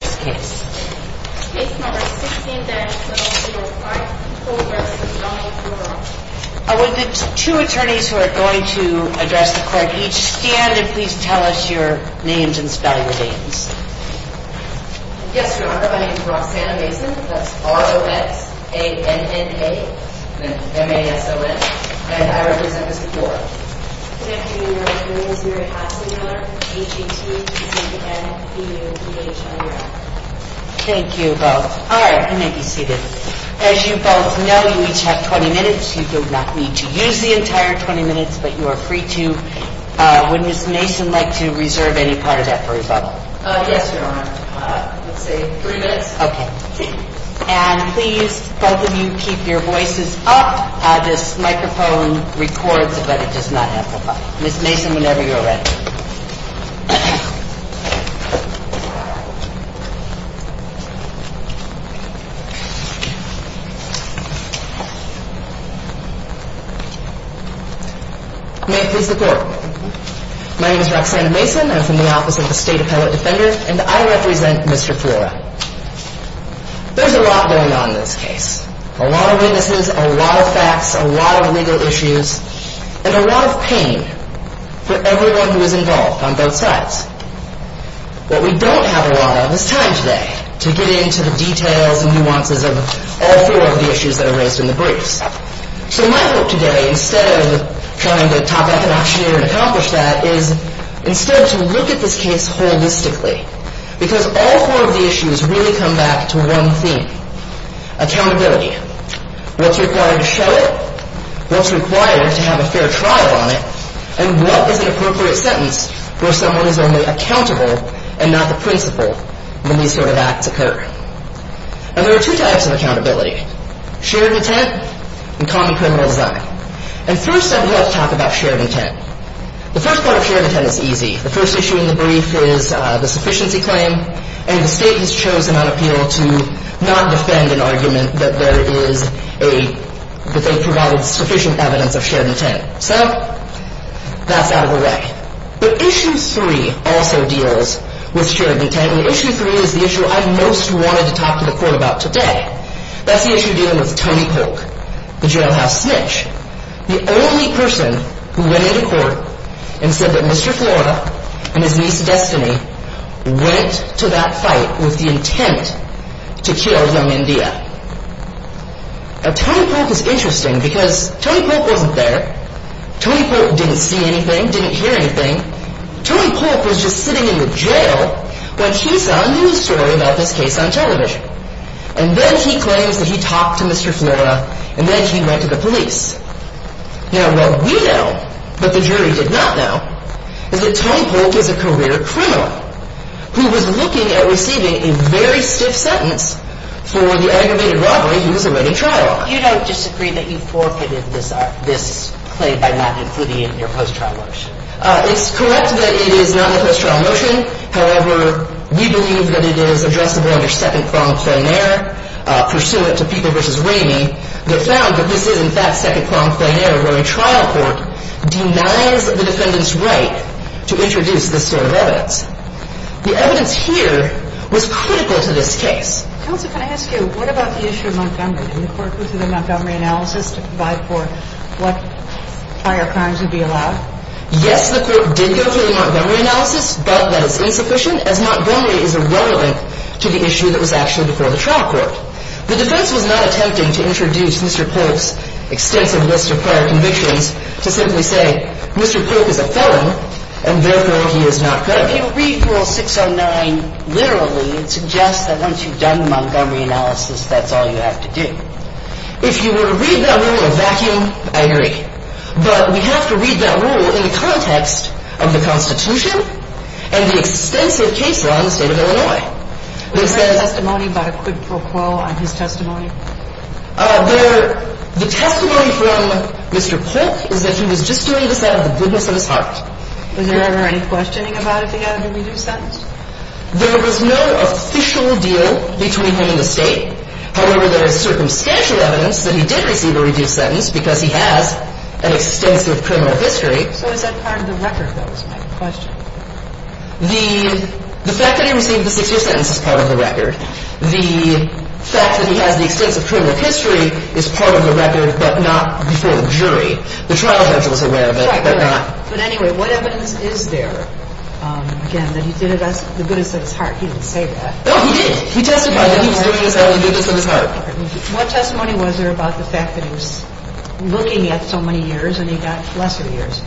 Case No. 16-705, Progress v. Donnell, Flora Yes, Your Honor. My name is Roxanna Mason. That's R-O-X-A-N-N-A. M-A-S-O-N. And I represent Mr. Flora. Good afternoon, Your Honor. My name is Mary Hassler-Miller. A-G-T-E-C-N-E-O-P-H-I-N. Thank you both. All right. You may be seated. As you both know, you each have 20 minutes. You do not need to use the entire 20 minutes, but you are free to. Would Ms. Mason like to reserve any part of that for rebuttal? Yes, Your Honor. I would say three minutes. Okay. And please, both of you, keep your voices up. This microphone records, but it does not amplify. Ms. Mason, whenever you're ready. You may please report. My name is Roxanna Mason. I'm from the Office of the State Appellate Defender, and I represent Mr. Flora. There's a lot going on in this case. A lot of witnesses, a lot of facts, a lot of legal issues, and a lot of pain for everyone who is involved on both sides. What we don't have a lot of is time today to get into the details and nuances of all four of the issues that are raised in the briefs. So my hope today, instead of trying to top-back an auctioneer and accomplish that, is instead to look at this case holistically, because all four of the issues really come back to one theme. Accountability. What's required to show it? What's required to have a fair trial on it? And what is an appropriate sentence for someone who's only accountable and not the principal when these sort of acts occur? And there are two types of accountability. Shared intent and common criminal design. And first, I'd love to talk about shared intent. The first part of shared intent is easy. The first issue in the brief is the sufficiency claim, and the state has chosen on appeal to not defend an argument that there is a – that they've provided sufficient evidence of shared intent. So that's out of the way. But issue three also deals with shared intent, and issue three is the issue I most wanted to talk to the court about today. That's the issue dealing with Tony Polk, the jailhouse snitch. The only person who went into court and said that Mr. Flora and his niece Destiny went to that fight with the intent to kill young India. Now, Tony Polk is interesting because Tony Polk wasn't there. Tony Polk didn't see anything, didn't hear anything. Tony Polk was just sitting in the jail when he saw a news story about this case on television. And then he claims that he talked to Mr. Flora, and then he went to the police. Now, what we know, but the jury did not know, is that Tony Polk is a career criminal who was looking at receiving a very stiff sentence for the aggravated robbery he was already trial on. You don't disagree that you forfeited this claim by not including it in your post-trial motion? It's correct that it is not in the post-trial motion. However, we believe that it is addressable under second-pronged plain error pursuant to People v. Ramey. They found that this is, in fact, second-pronged plain error where a trial court denies the defendant's right to introduce this sort of evidence. The evidence here was critical to this case. Counsel, can I ask you, what about the issue of Montgomery? Did the court go through the Montgomery analysis to provide for what prior crimes would be allowed? Yes, the court did go through the Montgomery analysis, but that is insufficient, as Montgomery is irrelevant to the issue that was actually before the trial court. The defense was not attempting to introduce Mr. Polk's extensive list of prior convictions to simply say Mr. Polk is a felon, and therefore he is not guilty. But if you read Rule 609 literally, it suggests that once you've done the Montgomery analysis, that's all you have to do. If you were to read that rule in a vacuum, I agree. But we have to read that rule in the context of the Constitution and the extensive case law in the state of Illinois. Was there any testimony by a quid pro quo on his testimony? The testimony from Mr. Polk is that he was just doing this out of the goodness of his heart. Was there ever any questioning about if he had a reduced sentence? There was no official deal between him and the state. However, there is circumstantial evidence that he did receive a reduced sentence because he has an extensive criminal history. So is that part of the record that was made in question? The fact that he received the six-year sentence is part of the record. The fact that he has the extensive criminal history is part of the record, but not before the jury. The trial judge was aware of it, but not... But anyway, what evidence is there, again, that he did it out of the goodness of his heart? He didn't say that. No, he did. He testified that he was doing it out of the goodness of his heart. What testimony was there about the fact that he was looking at so many years and he got lesser years?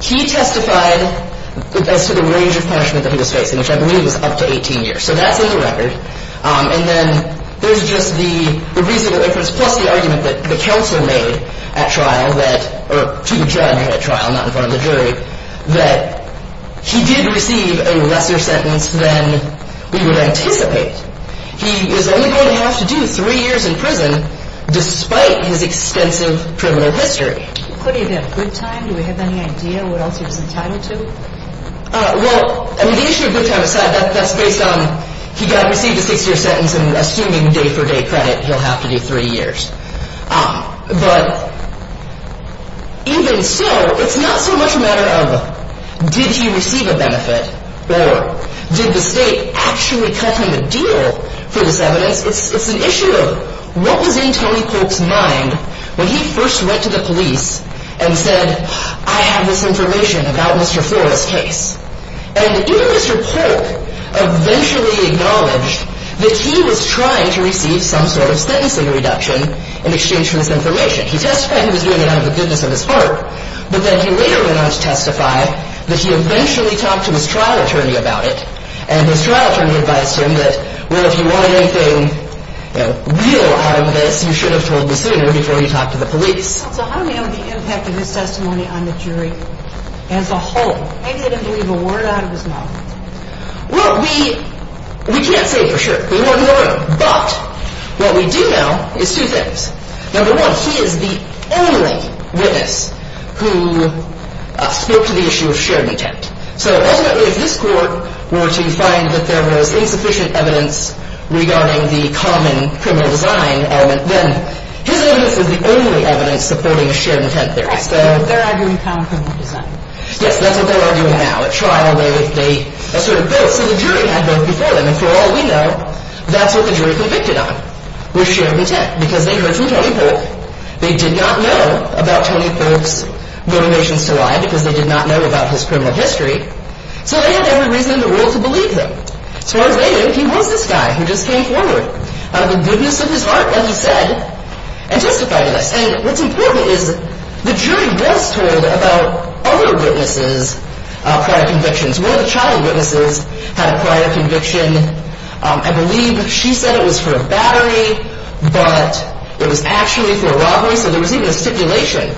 He testified as to the range of punishment that he was facing, which I believe was up to 18 years. So that's in the record. And then there's just the reasonable inference plus the argument that the counsel made at trial that... or to the judge at trial, not in front of the jury, that he did receive a lesser sentence than we would anticipate. He is only going to have to do three years in prison despite his extensive criminal history. Could he have had good time? Do we have any idea what else he was entitled to? Well, I mean, the issue of good time aside, that's based on he got to receive a six-year sentence and assuming day-for-day credit, he'll have to do three years. But even so, it's not so much a matter of did he receive a benefit or did the state actually cut him a deal for this evidence. It's an issue of what was in Tony Polk's mind when he first went to the police and said, I have this information about Mr. Flores' case. And even Mr. Polk eventually acknowledged that he was trying to receive some sort of sentencing reduction in exchange for this information. He testified he was doing it out of the goodness of his heart, but then he later went on to testify that he eventually talked to his trial attorney about it. And his trial attorney advised him that, well, if you want anything real out of this, you should have told me sooner before you talked to the police. So how do we know the impact of his testimony on the jury as a whole? Maybe they didn't believe a word out of his mouth. Well, we can't say for sure. We wouldn't know. But what we do know is two things. Number one, he is the only witness who spoke to the issue of shared intent. So ultimately, if this court were to find that there was insufficient evidence regarding the common criminal design element, then his evidence is the only evidence supporting a shared intent theory. Right. So they're arguing common criminal design. Yes, that's what they're arguing now. At trial, they asserted both. So the jury had both before them. And for all we know, that's what the jury convicted on, was shared intent, because they heard from Tony Polk. They did not know about Tony Polk's motivations to lie because they did not know about his criminal history. So they had every reason in the world to believe him. As far as they knew, he was this guy who just came forward out of the goodness of his heart, as he said, and testified to this. And what's important is the jury was told about other witnesses' prior convictions. One of the child witnesses had a prior conviction. I believe she said it was for a battery, but it was actually for a robbery. So there was even a stipulation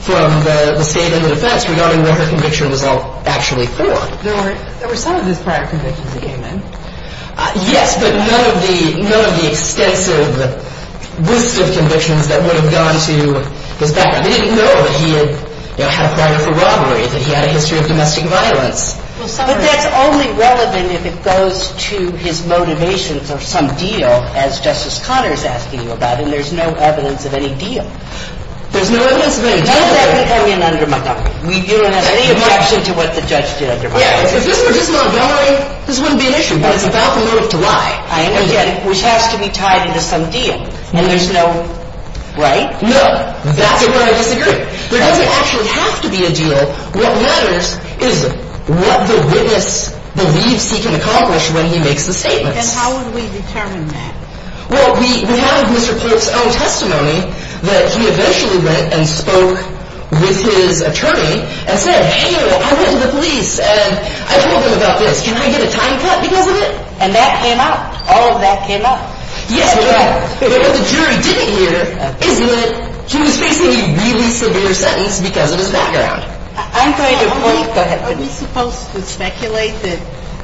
from the state and the defense regarding what her conviction was actually for. There were some of his prior convictions that came in. Yes, but none of the extensive list of convictions that would have gone to his background. They didn't know that he had a prior for robbery, that he had a history of domestic violence. But that's only relevant if it goes to his motivations or some deal, as Justice Conner is asking you about, and there's no evidence of any deal. There's no evidence of any deal. How does that become an underminement? You don't have any objection to what the judge did undermine? Yeah, if this were just an undermining, this wouldn't be an issue. But it's about the motive to lie. I understand, which has to be tied into some deal. And there's no, right? No, that's where I disagree. There doesn't actually have to be a deal. What matters is what the witness believes he can accomplish when he makes the statements. And how would we determine that? Well, we have Mr. Polk's own testimony that he eventually went and spoke with his attorney and said, hey, I went to the police and I told them about this. Can I get a time cut because of it? And that came up. All of that came up. Yes, but what the jury didn't hear is that he was facing a really severe sentence because of his background. Are we supposed to speculate that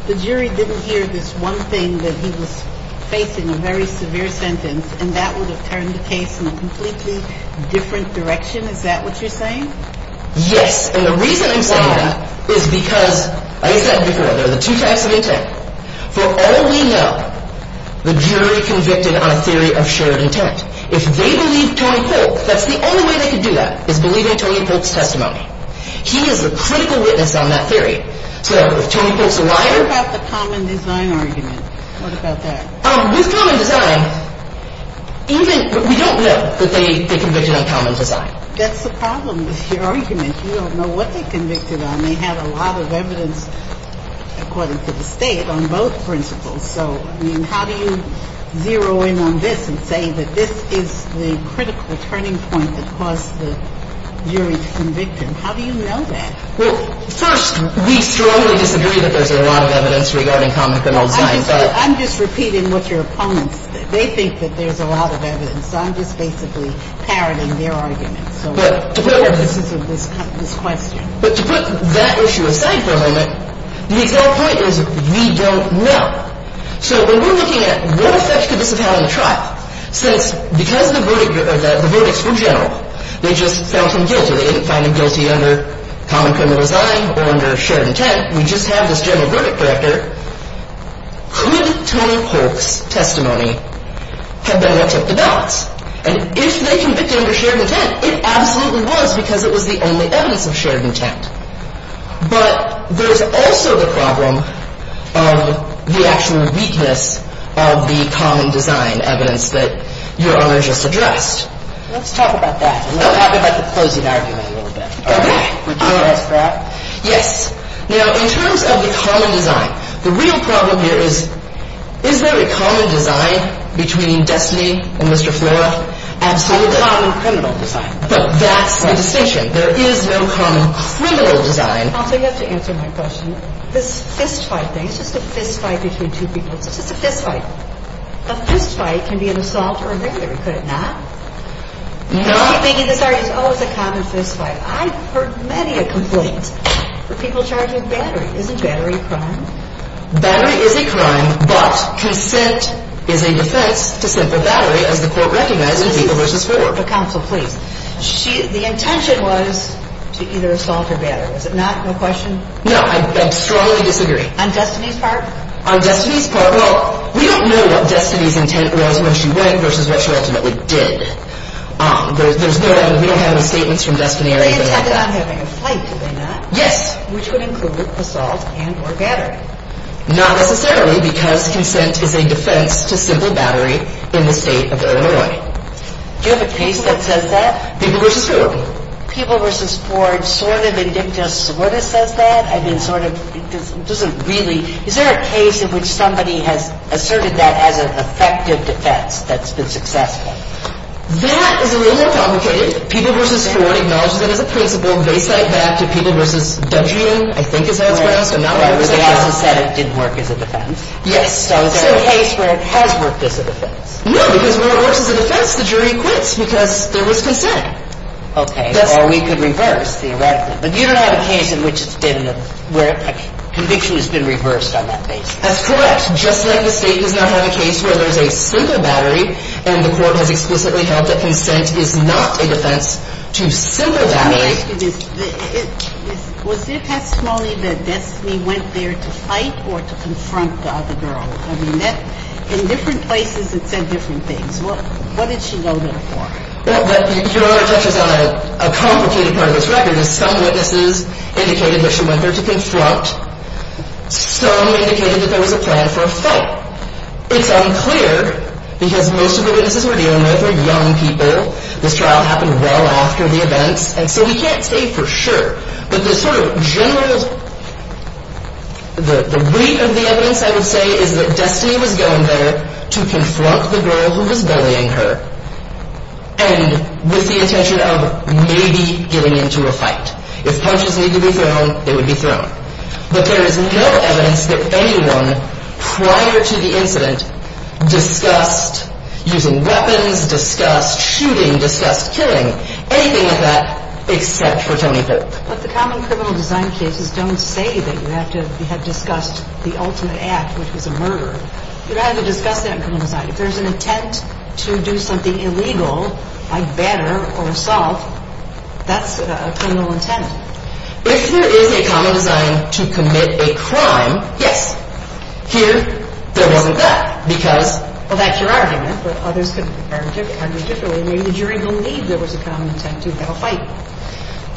the jury didn't hear this one thing, that he was facing a very severe sentence, and that would have turned the case in a completely different direction? Is that what you're saying? Yes, and the reason I'm saying that is because, as I said before, there are the two types of intent. For all we know, the jury convicted on a theory of shared intent. If they believe Tony Polk, that's the only way they can do that, is believing Tony Polk's testimony. He is a critical witness on that theory. So if Tony Polk's a liar. What about the common design argument? What about that? With common design, we don't know that they convicted on common design. That's the problem with your argument. You don't know what they convicted on. They have a lot of evidence, according to the state, on both principles. So, I mean, how do you zero in on this and say that this is the critical turning point that caused the jury to convict him? How do you know that? Well, first, we strongly disagree that there's a lot of evidence regarding common design. I'm just repeating what your opponents think. They think that there's a lot of evidence. I'm just basically parroting their arguments. But to put that issue aside for a moment, the point is we don't know. So when we're looking at what effect could this have had on the trial, since because the verdicts were general, they just found him guilty. They didn't find him guilty under common criminal design or under shared intent. We just have this general verdict director. Could Tony Polk's testimony have been what took the ballots? And if they convicted under shared intent, it absolutely was because it was the only evidence of shared intent. But there's also the problem of the actual weakness of the common design evidence that Your Honor just addressed. Let's talk about that. Let's talk about the closing argument a little bit. Okay. Would you address that? Yes. Now, in terms of the common design, the real problem here is, is there a common design between Destiny and Mr. Flora? Absolutely. A common criminal design. But that's the distinction. There is no common criminal design. Also, you have to answer my question. This fist fight thing, it's just a fist fight between two people. It's just a fist fight. A fist fight can be an assault or a murder. Could it not? No. I keep thinking this argument, oh, it's a common fist fight. I've heard many a complaint for people charging battery. Isn't battery a crime? Battery is a crime, but consent is a defense to simply battery, as the court recognized in People v. Flora. Counsel, please. The intention was to either assault or battery. Is it not? No question? No. I strongly disagree. On Destiny's part? On Destiny's part, well, we don't know what Destiny's intent was when she went versus what she ultimately did. There's no evidence. We don't have any statements from Destiny or anything like that. They intended on having a fight, did they not? Yes. Which would include assault and or battery. Not necessarily, because consent is a defense to simple battery in the state of Illinois. Do you have a case that says that? People v. Ford. People v. Ford sort of and dicta sort of says that? I mean, sort of doesn't really. Is there a case in which somebody has asserted that as an effective defense that's been successful? That is a little more complicated. People v. Ford acknowledges that as a principle. They cite that to People v. Dungeon, I think is how it's pronounced. They also said it didn't work as a defense. Yes. So is there a case where it has worked as a defense? No, because when it works as a defense, the jury quits because there was consent. Okay. Or we could reverse, theoretically. But you don't have a case in which it's been where a conviction has been reversed on that basis. That's correct. Just like the state does not have a case where there's a simple battery and the court has explicitly held that consent is not a defense to simple battery. Let me ask you this. Was it testimony that Destiny went there to fight or to confront the other girl? In different places it said different things. What did she go there for? Your Honor touches on a complicated part of this record. Some witnesses indicated that she went there to confront. Some indicated that there was a plan for a fight. It's unclear because most of the witnesses we're dealing with are young people. This trial happened well after the events, and so we can't say for sure. But the sort of general, the weight of the evidence, I would say, is that Destiny was going there to confront the girl who was bullying her and with the intention of maybe getting into a fight. If punches needed to be thrown, they would be thrown. But there is no evidence that anyone prior to the incident discussed using weapons, discussed shooting, discussed killing, anything like that, except for Tony Hook. But the common criminal design cases don't say that you have to have discussed the ultimate act, which was a murder. You don't have to discuss that in criminal design. If there's an intent to do something illegal, like batter or assault, that's a criminal intent. If there is a common design to commit a crime, yes. Here, there wasn't that because... Maybe the jury believed there was a common intent to have a fight.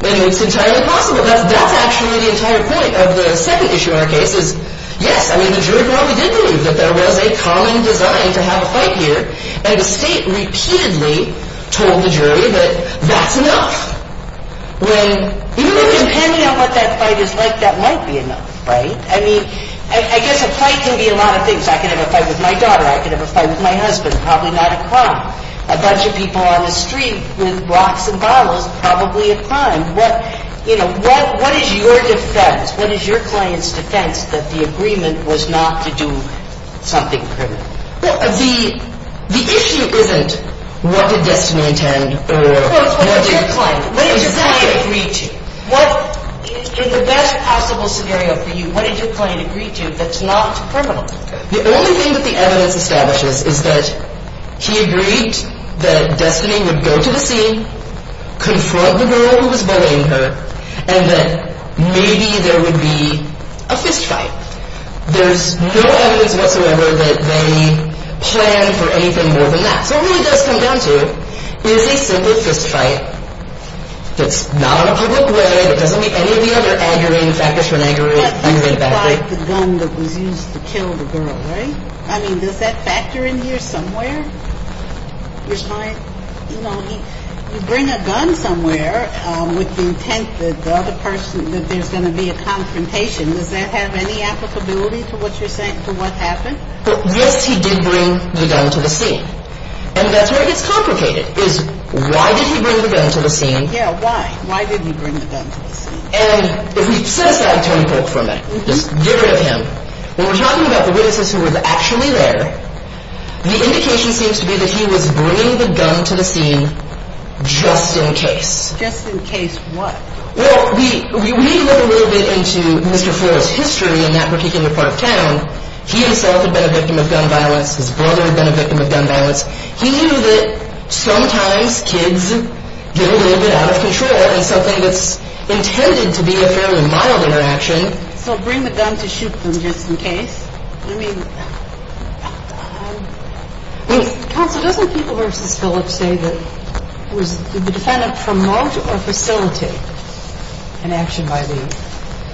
It's entirely possible. That's actually the entire point of the second issue in our case is, yes, I mean, the jury probably did believe that there was a common design to have a fight here, and the State repeatedly told the jury that that's enough. Depending on what that fight is like, that might be enough, right? I mean, I guess a fight can be a lot of things. I could have a fight with my daughter. I could have a fight with my husband. Probably not a crime. A bunch of people on the street with rocks and bottles, probably a crime. What is your defense? What is your client's defense that the agreement was not to do something criminal? Well, the issue isn't what did Destiny intend or what did your client agree to. In the best possible scenario for you, what did your client agree to that's not criminal? The only thing that the evidence establishes is that he agreed that Destiny would go to the scene, confront the girl who was bullying her, and that maybe there would be a fistfight. There's no evidence whatsoever that they planned for anything more than that. So what he does come down to is a simple fistfight that's not in a public way, that doesn't meet any of the other aggravating factors for an aggravated battery. That's just like the gun that was used to kill the girl, right? I mean, does that factor in here somewhere? Your client, you know, he'd bring a gun somewhere with the intent that the other person, that there's going to be a confrontation. Does that have any applicability to what you're saying, to what happened? Well, yes, he did bring the gun to the scene. And that's where it gets complicated, is why did he bring the gun to the scene? Yeah, why? Why did he bring the gun to the scene? And if we set aside Tony Polk for a minute, just get rid of him. When we're talking about the witnesses who were actually there, the indication seems to be that he was bringing the gun to the scene just in case. Just in case what? Well, we need to look a little bit into Mr. Flores' history in that particular part of town. He himself had been a victim of gun violence. His brother had been a victim of gun violence. He knew that sometimes kids get a little bit out of control in something that's intended to be a fairly mild interaction. So bring the gun to shoot them just in case? I mean, counsel, doesn't People v. Phillips say that the defendant promoted or facilitated an action by the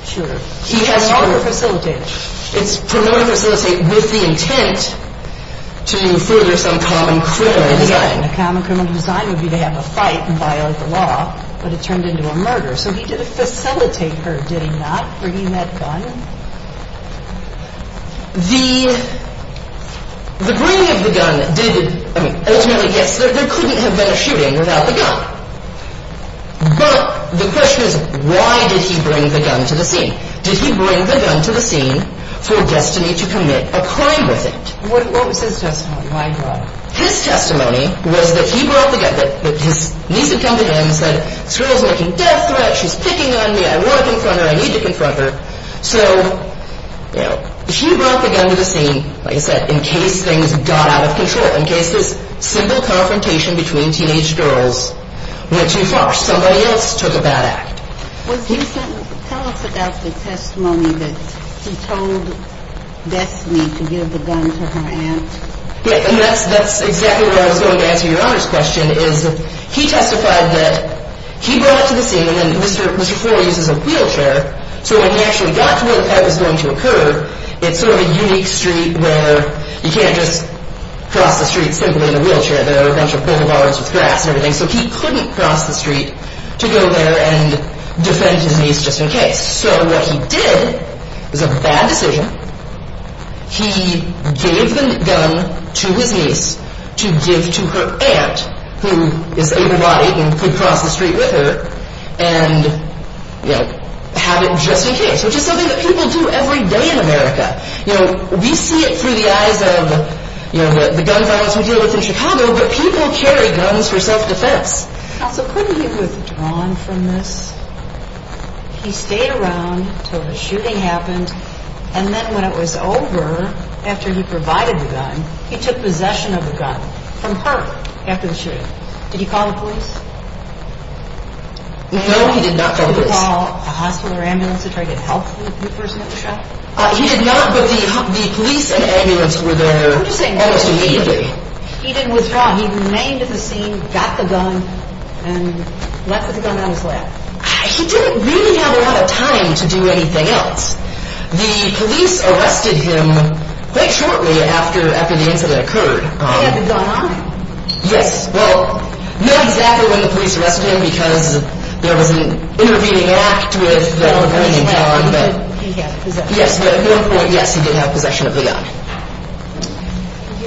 shooter? Promoted or facilitated? Promoted or facilitated with the intent to further some common criminal design. A common criminal design would be to have a fight and violate the law, but it turned into a murder. So he didn't facilitate her, did he not, bringing that gun? The bringing of the gun did, I mean, ultimately, yes, there couldn't have been a shooting without the gun. But the question is, why did he bring the gun to the scene? Did he bring the gun to the scene for Destiny to commit a crime with it? What was his testimony? His testimony was that he brought the gun. His niece had come to him and said, this girl's making death threats. She's picking on me. I want to confront her. I need to confront her. So he brought the gun to the scene, like I said, in case things got out of control, in case this simple confrontation between teenage girls went too far, somebody else took a bad act. Well, can you tell us about the testimony that he told Destiny to give the gun to her aunt? Yeah, and that's exactly where I was going to answer your honor's question, is he testified that he brought it to the scene, and Mr. Ford uses a wheelchair, so when he actually got to where the fight was going to occur, it's sort of a unique street where you can't just cross the street simply in a wheelchair. There are a bunch of boulevards with grass and everything, so he couldn't cross the street to go there and defend his niece just in case. So what he did was a bad decision. He gave the gun to his niece to give to her aunt, who is able-bodied and could cross the street with her, and have it just in case, which is something that people do every day in America. We see it through the eyes of the gun violence we deal with in Chicago, but people carry guns for self-defense. So couldn't he have withdrawn from this? He stayed around until the shooting happened, and then when it was over, after he provided the gun, he took possession of the gun from her after the shooting. Did he call the police? No, he did not call the police. Did he call a hospital or ambulance to try to get help for the person who was shot? He did not, but the police and ambulance were there almost immediately. He didn't withdraw. He remained at the scene, got the gun, and left with the gun on his lap. He didn't really have a lot of time to do anything else. The police arrested him quite shortly after the incident occurred. He had the gun on him. Yes, well, not exactly when the police arrested him because there was an intervening act with the operating power of the gun. He had possession of the gun. Yes, he did have possession of the gun. Thank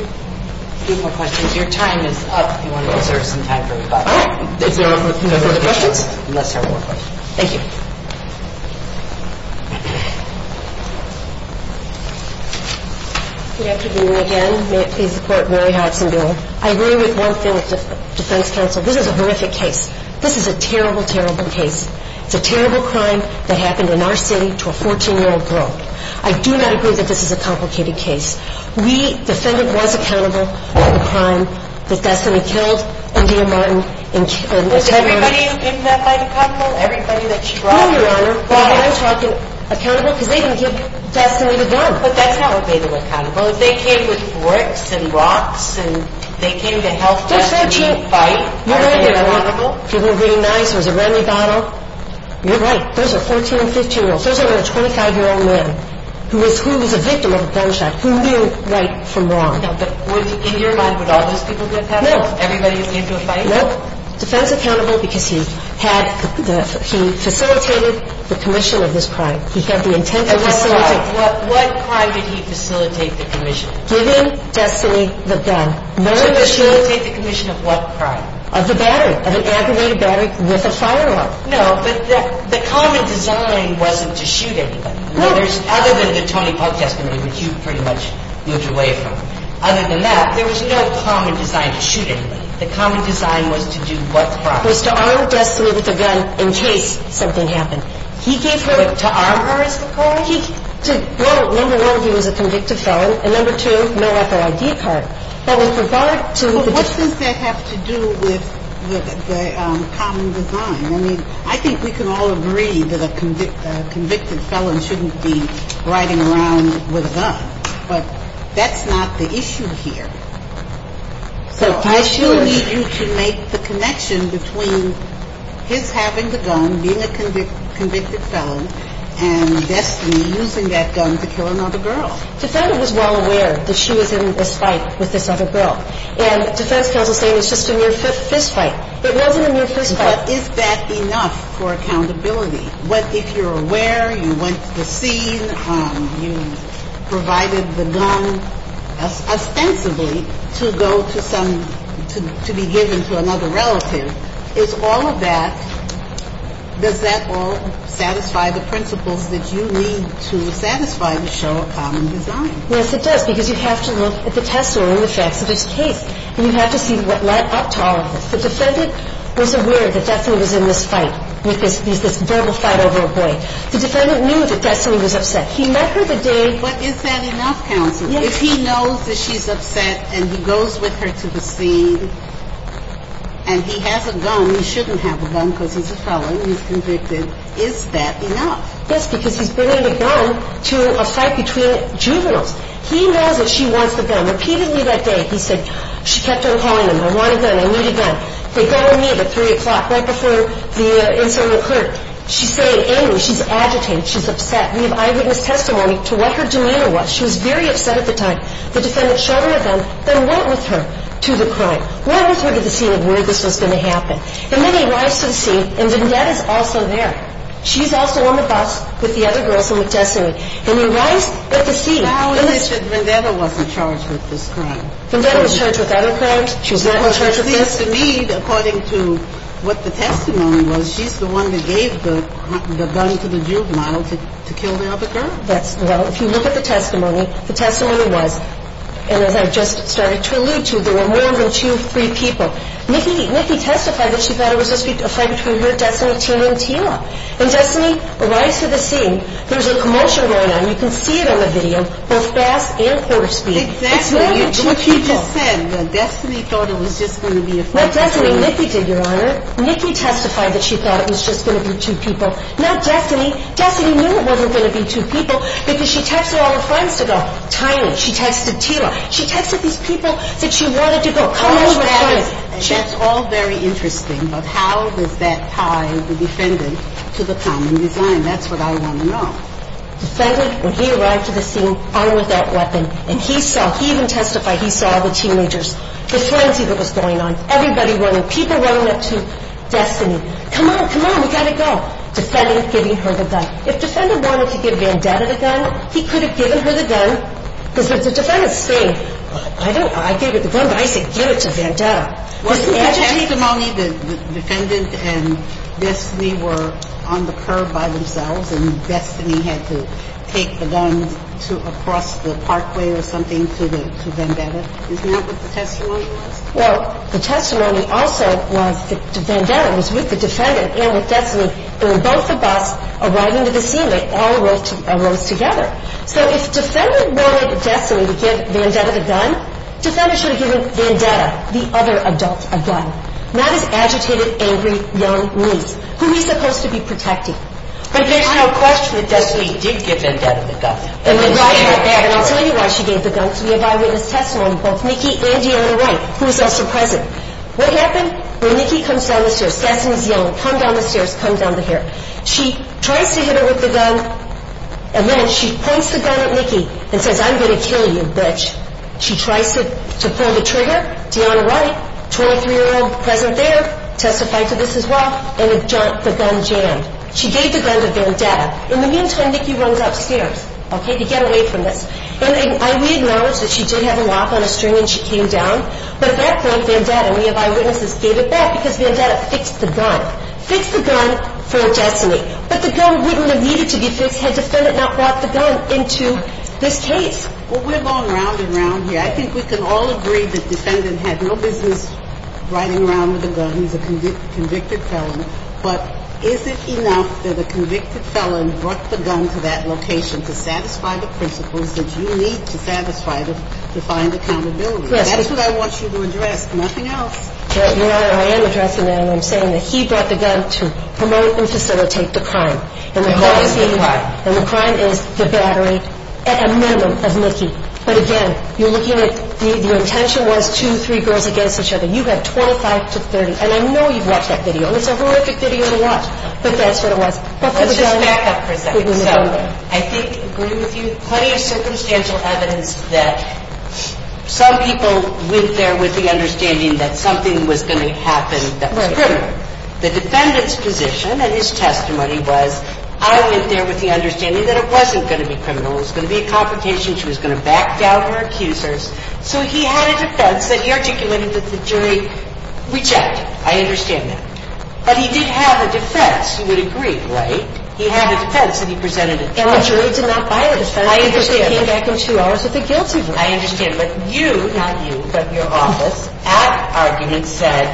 you. A few more questions. Your time is up. We want to reserve some time for your questions. All right. If there are no further questions, let's have one more question. Thank you. Good afternoon again. May it please the Court, Mary Hudson doing? I agree with one thing with the defense counsel. This is a horrific case. This is a terrible, terrible case. It's a terrible crime that happened in our city to a 14-year-old girl. I do not agree that this is a complicated case. We defended what's accountable, the crime that Destinee killed India Martin. Was everybody who came to that fight accountable? Everybody that she brought here? No, Your Honor. Why? Because they didn't give Destinee the gun. But that's not what made them accountable. They came with forks and rocks, and they came to help Destinee fight. You're right, Your Honor. People were being nice. There was a remedy bottle. You're right. Those are 14 and 15-year-olds. Those are 25-year-old men who was a victim of a gunshot, who knew right from wrong. Now, in your mind, would all those people be accountable? No. Everybody who came to a fight? No. Defense accountable because he facilitated the commission of this crime. He had the intent to facilitate. And what crime? What crime did he facilitate the commission? Giving Destinee the gun. He facilitated the commission of what crime? Of the battery, of an aggravated battery with a firearm. No, but the common design wasn't to shoot anybody. No. Other than the Tony Puck testimony, which you pretty much moved away from. Other than that, there was no common design to shoot anybody. The common design was to do what crime? It was to arm Destinee with the gun in case something happened. He gave her... To arm her is the crime? Well, number one, he was a convicted felon. And number two, no F.O.I.D. card. But with regard to... But what does that have to do with the common design? I mean, I think we can all agree that a convicted felon shouldn't be riding around with a gun. But that's not the issue here. So I still need you to make the connection between his having the gun, being a convicted felon, and Destinee using that gun to kill another girl. Defendant was well aware that she was in this fight with this other girl. And defense counsel is saying it's just a mere fist fight. It wasn't a mere fist fight. But is that enough for accountability? If you're aware, you went to the scene, you provided the gun ostensibly to go to some... to be given to another relative, is all of that... Yes, it does. Because you have to look at the testimony and the facts of this case. And you have to see what led up to all of this. The defendant was aware that Destinee was in this fight with this verbal fight over a boy. The defendant knew that Destinee was upset. He met her the day... But is that enough, counsel? Yes. If he knows that she's upset and he goes with her to the scene and he has a gun, he shouldn't have a gun because he's a felon, he's convicted. Is that enough? Yes, because he's bringing the gun to a fight between juveniles. He knows that she wants the gun. Repeatedly that day, he said, she kept on calling him, I want a gun, I need a gun. They go and meet at 3 o'clock, right before the incident occurred. She's staying angry, she's agitated, she's upset. We have eyewitness testimony to what her demeanor was. She was very upset at the time. The defendant showed her the gun, then went with her to the crime. Went with her to the scene of where this was going to happen. And then he arrives to the scene, and Vendetta is also there. She's also on the bus with the other girls and with Desiree. And he arrives at the scene. How is it that Vendetta wasn't charged with this crime? Vendetta was charged with other crimes. She was not charged with this? Because, indeed, according to what the testimony was, she's the one that gave the gun to the juvenile to kill the other girl. Well, if you look at the testimony, the testimony was, and as I just started to allude to, there were more than two or three people. Nikki testified that she thought it was just going to be a fight between her, Destiny, Tila, and Tila. And, Destiny, arrives to the scene. There's a commotion going on. You can see it on the video, both fast and quarter speed. Exactly. It's really two people. What you just said, that Destiny thought it was just going to be a fight between them. What Destiny and Nikki did, Your Honor, Nikki testified that she thought it was just going to be two people. Not Destiny. Destiny knew it wasn't going to be two people because she texted all her friends to go. Tiny. She texted Tila. She texted these people that she wanted to go. And that's all very interesting. But how does that tie the defendant to the common design? That's what I want to know. Defendant, when he arrived to the scene, armed with that weapon, and he saw, he even testified, he saw the teenagers, the frenzy that was going on, everybody running, people running up to Destiny. Come on, come on, we've got to go. Defendant giving her the gun. If defendant wanted to give Vandetta the gun, he could have given her the gun. Because if the defendants say, I gave her the gun, but I said give it to Vandetta. Was the testimony the defendant and Destiny were on the curb by themselves and Destiny had to take the gun across the parkway or something to Vandetta? Isn't that what the testimony was? Well, the testimony also was that Vandetta was with the defendant and with Destiny. They were both of us arriving to the scene. They all rose together. So if defendant wanted Destiny to give Vandetta the gun, defendant should have given Vandetta, the other adult, a gun. Not his agitated, angry, young niece, who he's supposed to be protecting. But there's no question that Destiny did give Vandetta the gun. And I'll tell you why she gave the gun. Because we evaluate his testimony, both Nikki and Deanna Wright, who was also present. What happened? When Nikki comes down the stairs, Destiny's young, come down the stairs, come down the hair. She tries to hit her with the gun, and then she points the gun at Nikki and says, I'm going to kill you, bitch. She tries to pull the trigger. Deanna Wright, 23-year-old present there, testified to this as well. And the gun jammed. She gave the gun to Vandetta. In the meantime, Nikki runs upstairs to get away from this. And we acknowledge that she did have a lock on a string when she came down. But at that point, Vandetta and we have eyewitnesses gave it back because Vandetta fixed the gun. Fixed the gun for Destiny. But the gun wouldn't have needed to be fixed had the defendant not brought the gun into this case. Well, we're long round and round here. I think we can all agree that the defendant had no business riding around with the gun. He's a convicted felon. But is it enough that a convicted felon brought the gun to that location to satisfy the principles that you need to satisfy the defined accountability? That's what I want you to address. Nothing else. Your Honor, I am addressing him. I'm saying that he brought the gun to promote and facilitate the crime. And the crime is the battery, at a minimum, of Nikki. But again, you're looking at the intention was two, three girls against each other. You have 25 to 30. And I know you've watched that video. And it's a horrific video to watch. But that's what it was. Let's just back up for a second. So I think, agree with you, plenty of circumstantial evidence that some people went there with the understanding that something was going to happen that was criminal. The defendant's position and his testimony was, I went there with the understanding that it wasn't going to be criminal. It was going to be a confrontation. She was going to back down her accusers. So he had a defense that he articulated that the jury rejected. I understand that. But he did have a defense. You would agree, right? He had a defense that he presented a defense. And the jury did not buy a defense because they came back in two hours with a guilty verdict. I understand. But you, not you, but your office, at argument said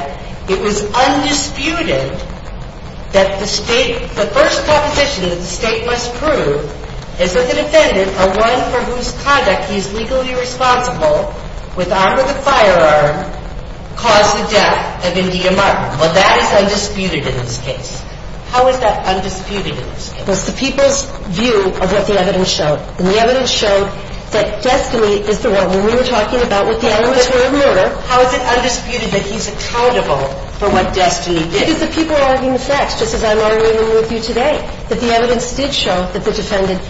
it was undisputed that the state, the first proposition that the state must prove is that the defendant, a one for whose conduct he is legally responsible, with arm or the firearm, caused the death of India Martin. Well, that is undisputed in this case. How is that undisputed in this case? It was the people's view of what the evidence showed. And the evidence showed that destiny is the rule. When we were talking about what the evidence were of murder. How is it undisputed that he's accountable for what destiny did? Because the people are arguing the facts, just as I'm arguing with you today, that the evidence did show that the defendant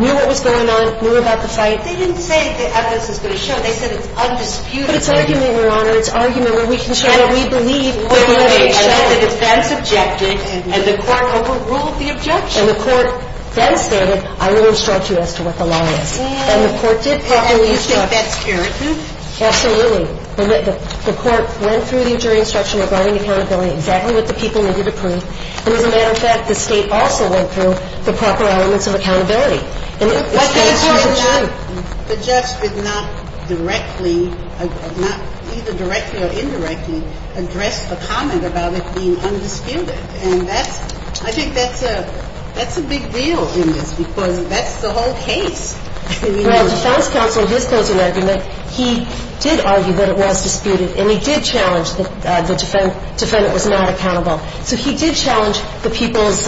knew what was going on, knew about the fight. They didn't say the evidence is going to show. They said it's undisputed. But it's argument, Your Honor. It's argument where we can show what we believe. And the defense objected and the court overruled the objection. And the court then stated, I will instruct you as to what the lie is. And the court did properly instruct. And you think that's irritant? Absolutely. The court went through the injury instruction regarding accountability, exactly what the people needed to prove. And as a matter of fact, the State also went through the proper elements of accountability. And the State says it's true. The judge did not directly, either directly or indirectly, address the comment about it being undisputed. And that's, I think that's a big deal in this, because that's the whole case. Well, defense counsel, his closing argument, he did argue that it was disputed. And he did challenge that the defendant was not accountable. So he did challenge the people's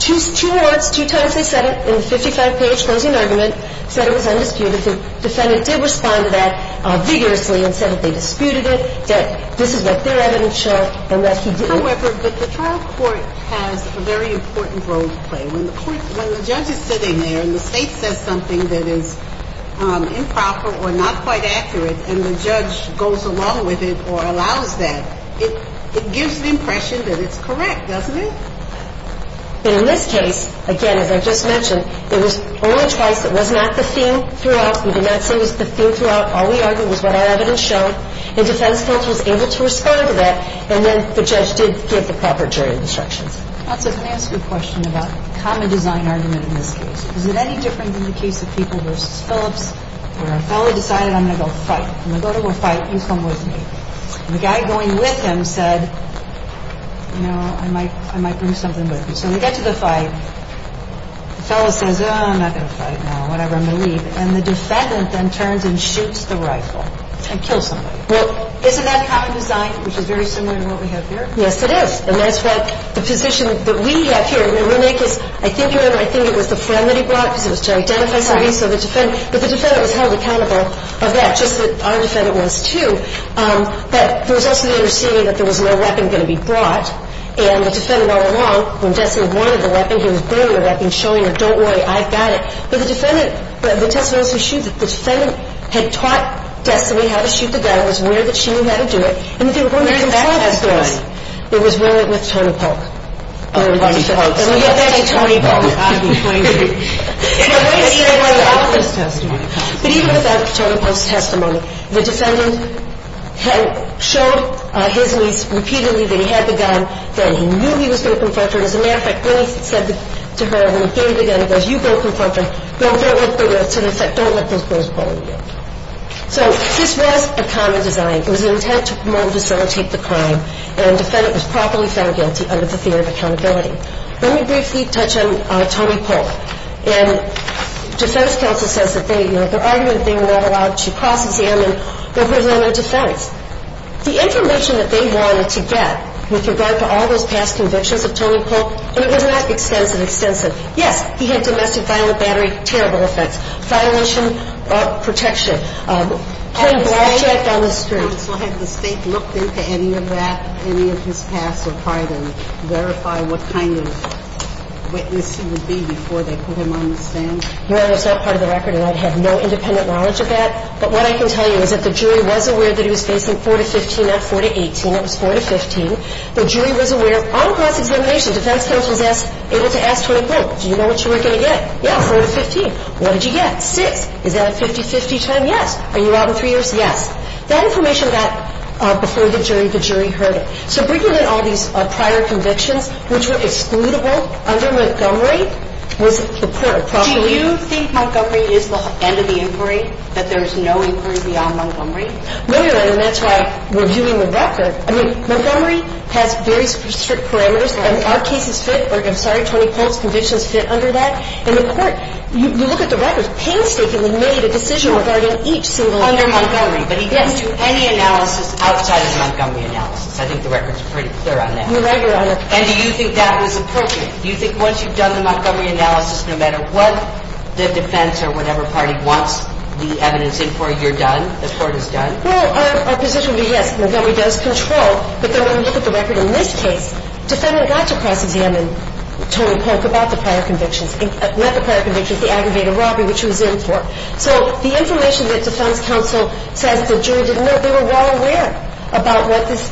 two words, two times they said it in the 55-page closing argument, said it was undisputed. The defendant did respond to that vigorously and said that they disputed it, that this is what their evidence showed, and that he didn't. However, the trial court has a very important role to play. When the judge is sitting there and the State says something that is improper or not quite accurate, and the judge goes along with it or allows that, it gives the impression that it's correct, doesn't it? In this case, again, as I just mentioned, it was only twice. It was not the theme throughout. We did not say it was the theme throughout. All we argued was what our evidence showed. And defense counsel was able to respond to that. And then the judge did give the proper jury instructions. So can I ask you a question about the common design argument in this case? Is it any different than the case of People v. Phillips where a fellow decided, I'm going to go fight. I'm going to go to a fight. You come with me. And the guy going with him said, you know, I might bring something with me. So we get to the fight. The fellow says, oh, I'm not going to fight now, whatever, I'm going to leave. And the defendant then turns and shoots the rifle and kills somebody. Well, isn't that common design, which is very similar to what we have here? Yes, it is. And that's what the position that we have here. I think it was the friend that he brought because it was to identify somebody. But the defendant was held accountable of that, just as our defendant was too. But there was also the understanding that there was no weapon going to be brought. And the defendant all along, when Destin wanted the weapon, he was bringing the weapon, showing her, don't worry, I've got it. But the defendant, the testimony was to shoot. The defendant had taught Destin how to shoot the gun. It was weird that she knew how to do it. And there was a battle testimony. It was with Tony Polk. Tony Polk. But even without Tony Polk's testimony, the defendant had showed his niece repeatedly that he had the gun, that he knew he was going to confront her. As a matter of fact, when he said to her, when he gave the gun to her, he said, you go confront her. No, don't let those girls pull on you. So this was a common design. It was an intent to promote and facilitate the crime. And the defendant was properly found guilty under the theory of accountability. Let me briefly touch on Tony Polk. And defense counsel says that they, you know, their argument that they were not allowed to cross-examine their prisoner of defense. The information that they wanted to get with regard to all those past convictions of Tony Polk, and it was not extensive, extensive. Yes, he had domestic violent battery. Terrible offense. Violation of protection. Playing blackjack on the street. Have the State looked into any of that, any of his past, or tried to verify what kind of witness he would be before they put him on the stand? No, that's not part of the record. And I have no independent knowledge of that. But what I can tell you is that the jury was aware that he was facing 4 to 15, not 4 to 18. It was 4 to 15. The jury was aware. On cross-examination, defense counsel was asked, able to ask Tony Polk, do you know what you were going to get? Yes. 4 to 15. What did you get? 6. Is that a 50-50 time? Yes. Are you out in 3 years? Yes. That information got before the jury. The jury heard it. So bringing in all these prior convictions, which were excludable under Montgomery, was appropriate. Do you think Montgomery is the end of the inquiry, that there is no inquiry beyond Montgomery? No, Your Honor. And that's why we're viewing the record. I mean, Montgomery has very strict parameters. Our cases fit or, I'm sorry, Tony Polk's convictions fit under that. And the Court, you look at the records, painstakingly made a decision regarding each single inquiry. Under Montgomery. But he didn't do any analysis outside of the Montgomery analysis. I think the record is pretty clear on that. You're right, Your Honor. And do you think that was appropriate? Do you think once you've done the Montgomery analysis, no matter what the defense or whatever party wants the evidence in for, you're done, the Court is done? Well, our position would be yes, Montgomery does control. But then when we look at the record in this case, defendant got to cross-examine Tony Polk about the prior convictions, not the prior convictions, the aggravated robbery, which he was in for. So the information that defense counsel says the jury didn't know, they were well aware about what this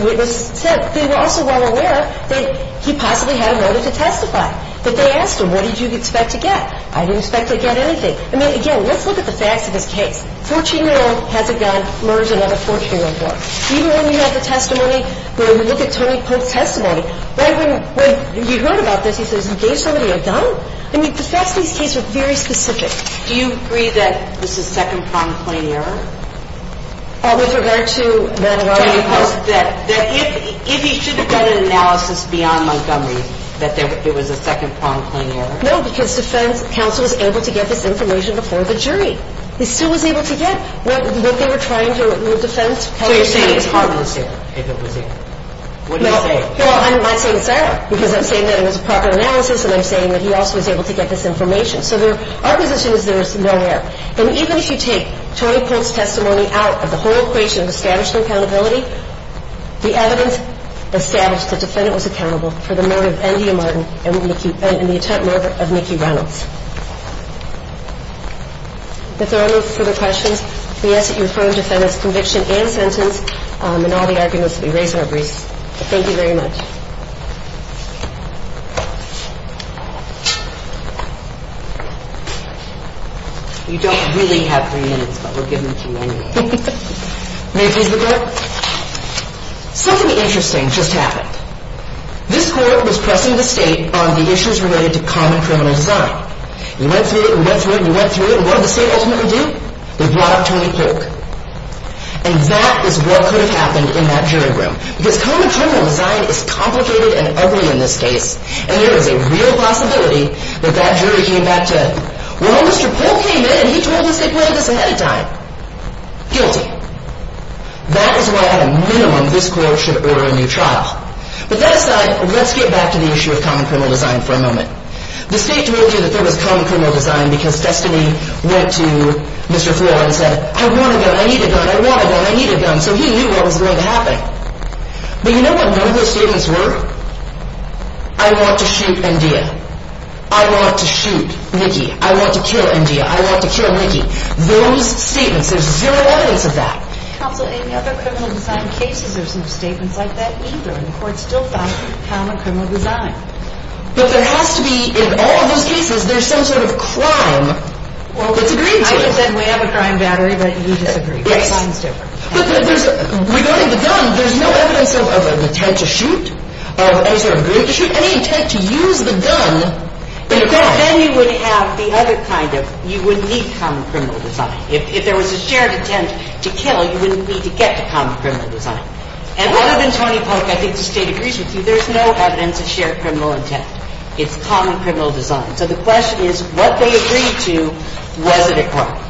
witness said. They were also well aware that he possibly had a motive to testify. But they asked him, what did you expect to get? I didn't expect to get anything. I mean, again, let's look at the facts of this case. 14-year-old has a gun. Murdered another 14-year-old boy. Even when we have the testimony, when we look at Tony Polk's testimony, right when he heard about this, he says he gave somebody a gun? I mean, the facts of this case are very specific. Do you agree that this is second-pronged plain error? With regard to that robbery? That if he should have done an analysis beyond Montgomery, that it was a second-pronged plain error? No, because defense counsel was able to get this information before the jury. He still was able to get what they were trying to defend. So you're saying it's harmless if it was a – what are you saying? Well, I'm saying it's error, because I'm saying that it was a proper analysis and I'm saying that he also was able to get this information. So our position is there is no error. And even if you take Tony Polk's testimony out of the whole equation of establishing accountability, the evidence established the defendant was accountable for the murder of Endia Martin and the attempted murder of Mickey Reynolds. If there are no further questions, we ask that you approve the defendant's conviction and sentence and all the arguments that we raised in our briefs. Thank you very much. You don't really have three minutes, but we'll give them to you anyway. May I please look at it? Something interesting just happened. This court was pressing the state on the issues related to common criminal design. You went through it and went through it and went through it, and what did the state ultimately do? They brought up Tony Polk. And that is what could have happened in that jury room. Because common criminal design is complicated and ugly in this case, and there is a real possibility that that jury came back to, well, Mr. Polk came in and he told us they planned this ahead of time. Guilty. That is why, at a minimum, this court should order a new trial. But that aside, let's get back to the issue of common criminal design for a moment. The state told you that there was common criminal design because Destiny went to Mr. Floor and said, I want a gun, I need a gun, I want a gun, I need a gun. So he knew what was going to happen. But you know what none of those statements were? I want to shoot NDEA. I want to shoot Nikki. I want to kill NDEA. I want to kill Nikki. Those statements, there's zero evidence of that. Counsel, any other criminal design cases, there's no statements like that either, and the court still found common criminal design. But there has to be, in all of those cases, there's some sort of crime that's agreed to. Well, Michael said we have a crime battery, but you disagree. Yes. But there's, regarding the gun, there's no evidence of an attempt to shoot, of any sort of intent to shoot, any intent to use the gun in a crime. Then you would have the other kind of, you would need common criminal design. If there was a shared intent to kill, you wouldn't need to get to common criminal design. And other than Tony Polk, I think the state agrees with you, there's no evidence of shared criminal intent. It's common criminal design. So the question is, what they agreed to, was it a crime?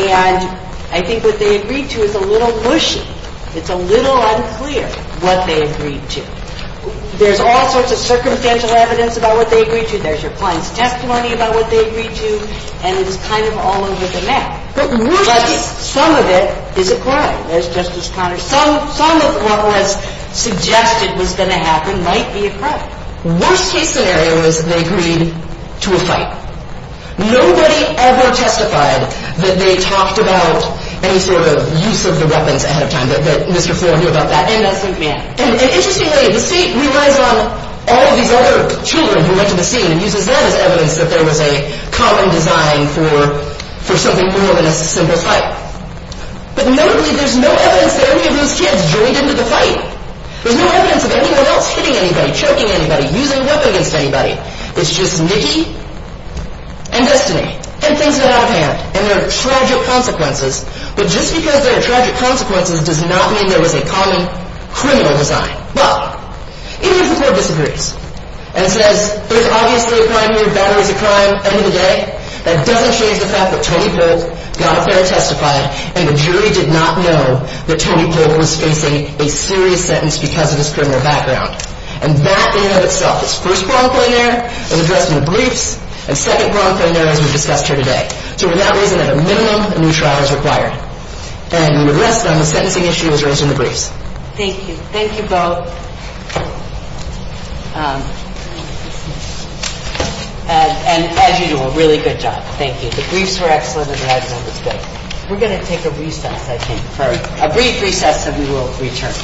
And I think what they agreed to is a little mushy. It's a little unclear what they agreed to. There's all sorts of circumstantial evidence about what they agreed to. There's your client's testimony about what they agreed to, and it's kind of all over the map. But some of it is a crime. Some of what was suggested was going to happen might be a crime. Worst case scenario is they agreed to a fight. Nobody ever testified that they talked about any sort of use of the weapons ahead of time, that Mr. Flore knew about that. And interestingly, the state relies on all these other children who went to the scene and uses that as evidence that there was a common design for something more than a simple fight. But notably, there's no evidence that any of those kids joined into the fight. There's no evidence of anyone else hitting anybody, choking anybody, using a weapon against anybody. It's just Nikki and Destiny, and things got out of hand, and there are tragic consequences. But just because there are tragic consequences does not mean there was a common criminal design. But, even if the court disagrees, and says there's obviously a crime here, battery's a crime, end of the day, that doesn't change the fact that Tony Polk got up there and testified, and the jury did not know that Tony Polk was facing a serious sentence because of his criminal background. And that, in and of itself, is first-pronged plenary, an address in the briefs, and second-pronged plenary, as we've discussed here today. So, for that reason, at a minimum, a new trial is required. And, with less than, the sentencing issue is raised in the briefs. Thank you. Thank you both. And, as you do, a really good job. Thank you. The briefs were excellent, and the evidence was good. We're going to take a recess, I think. A brief recess, and we will return.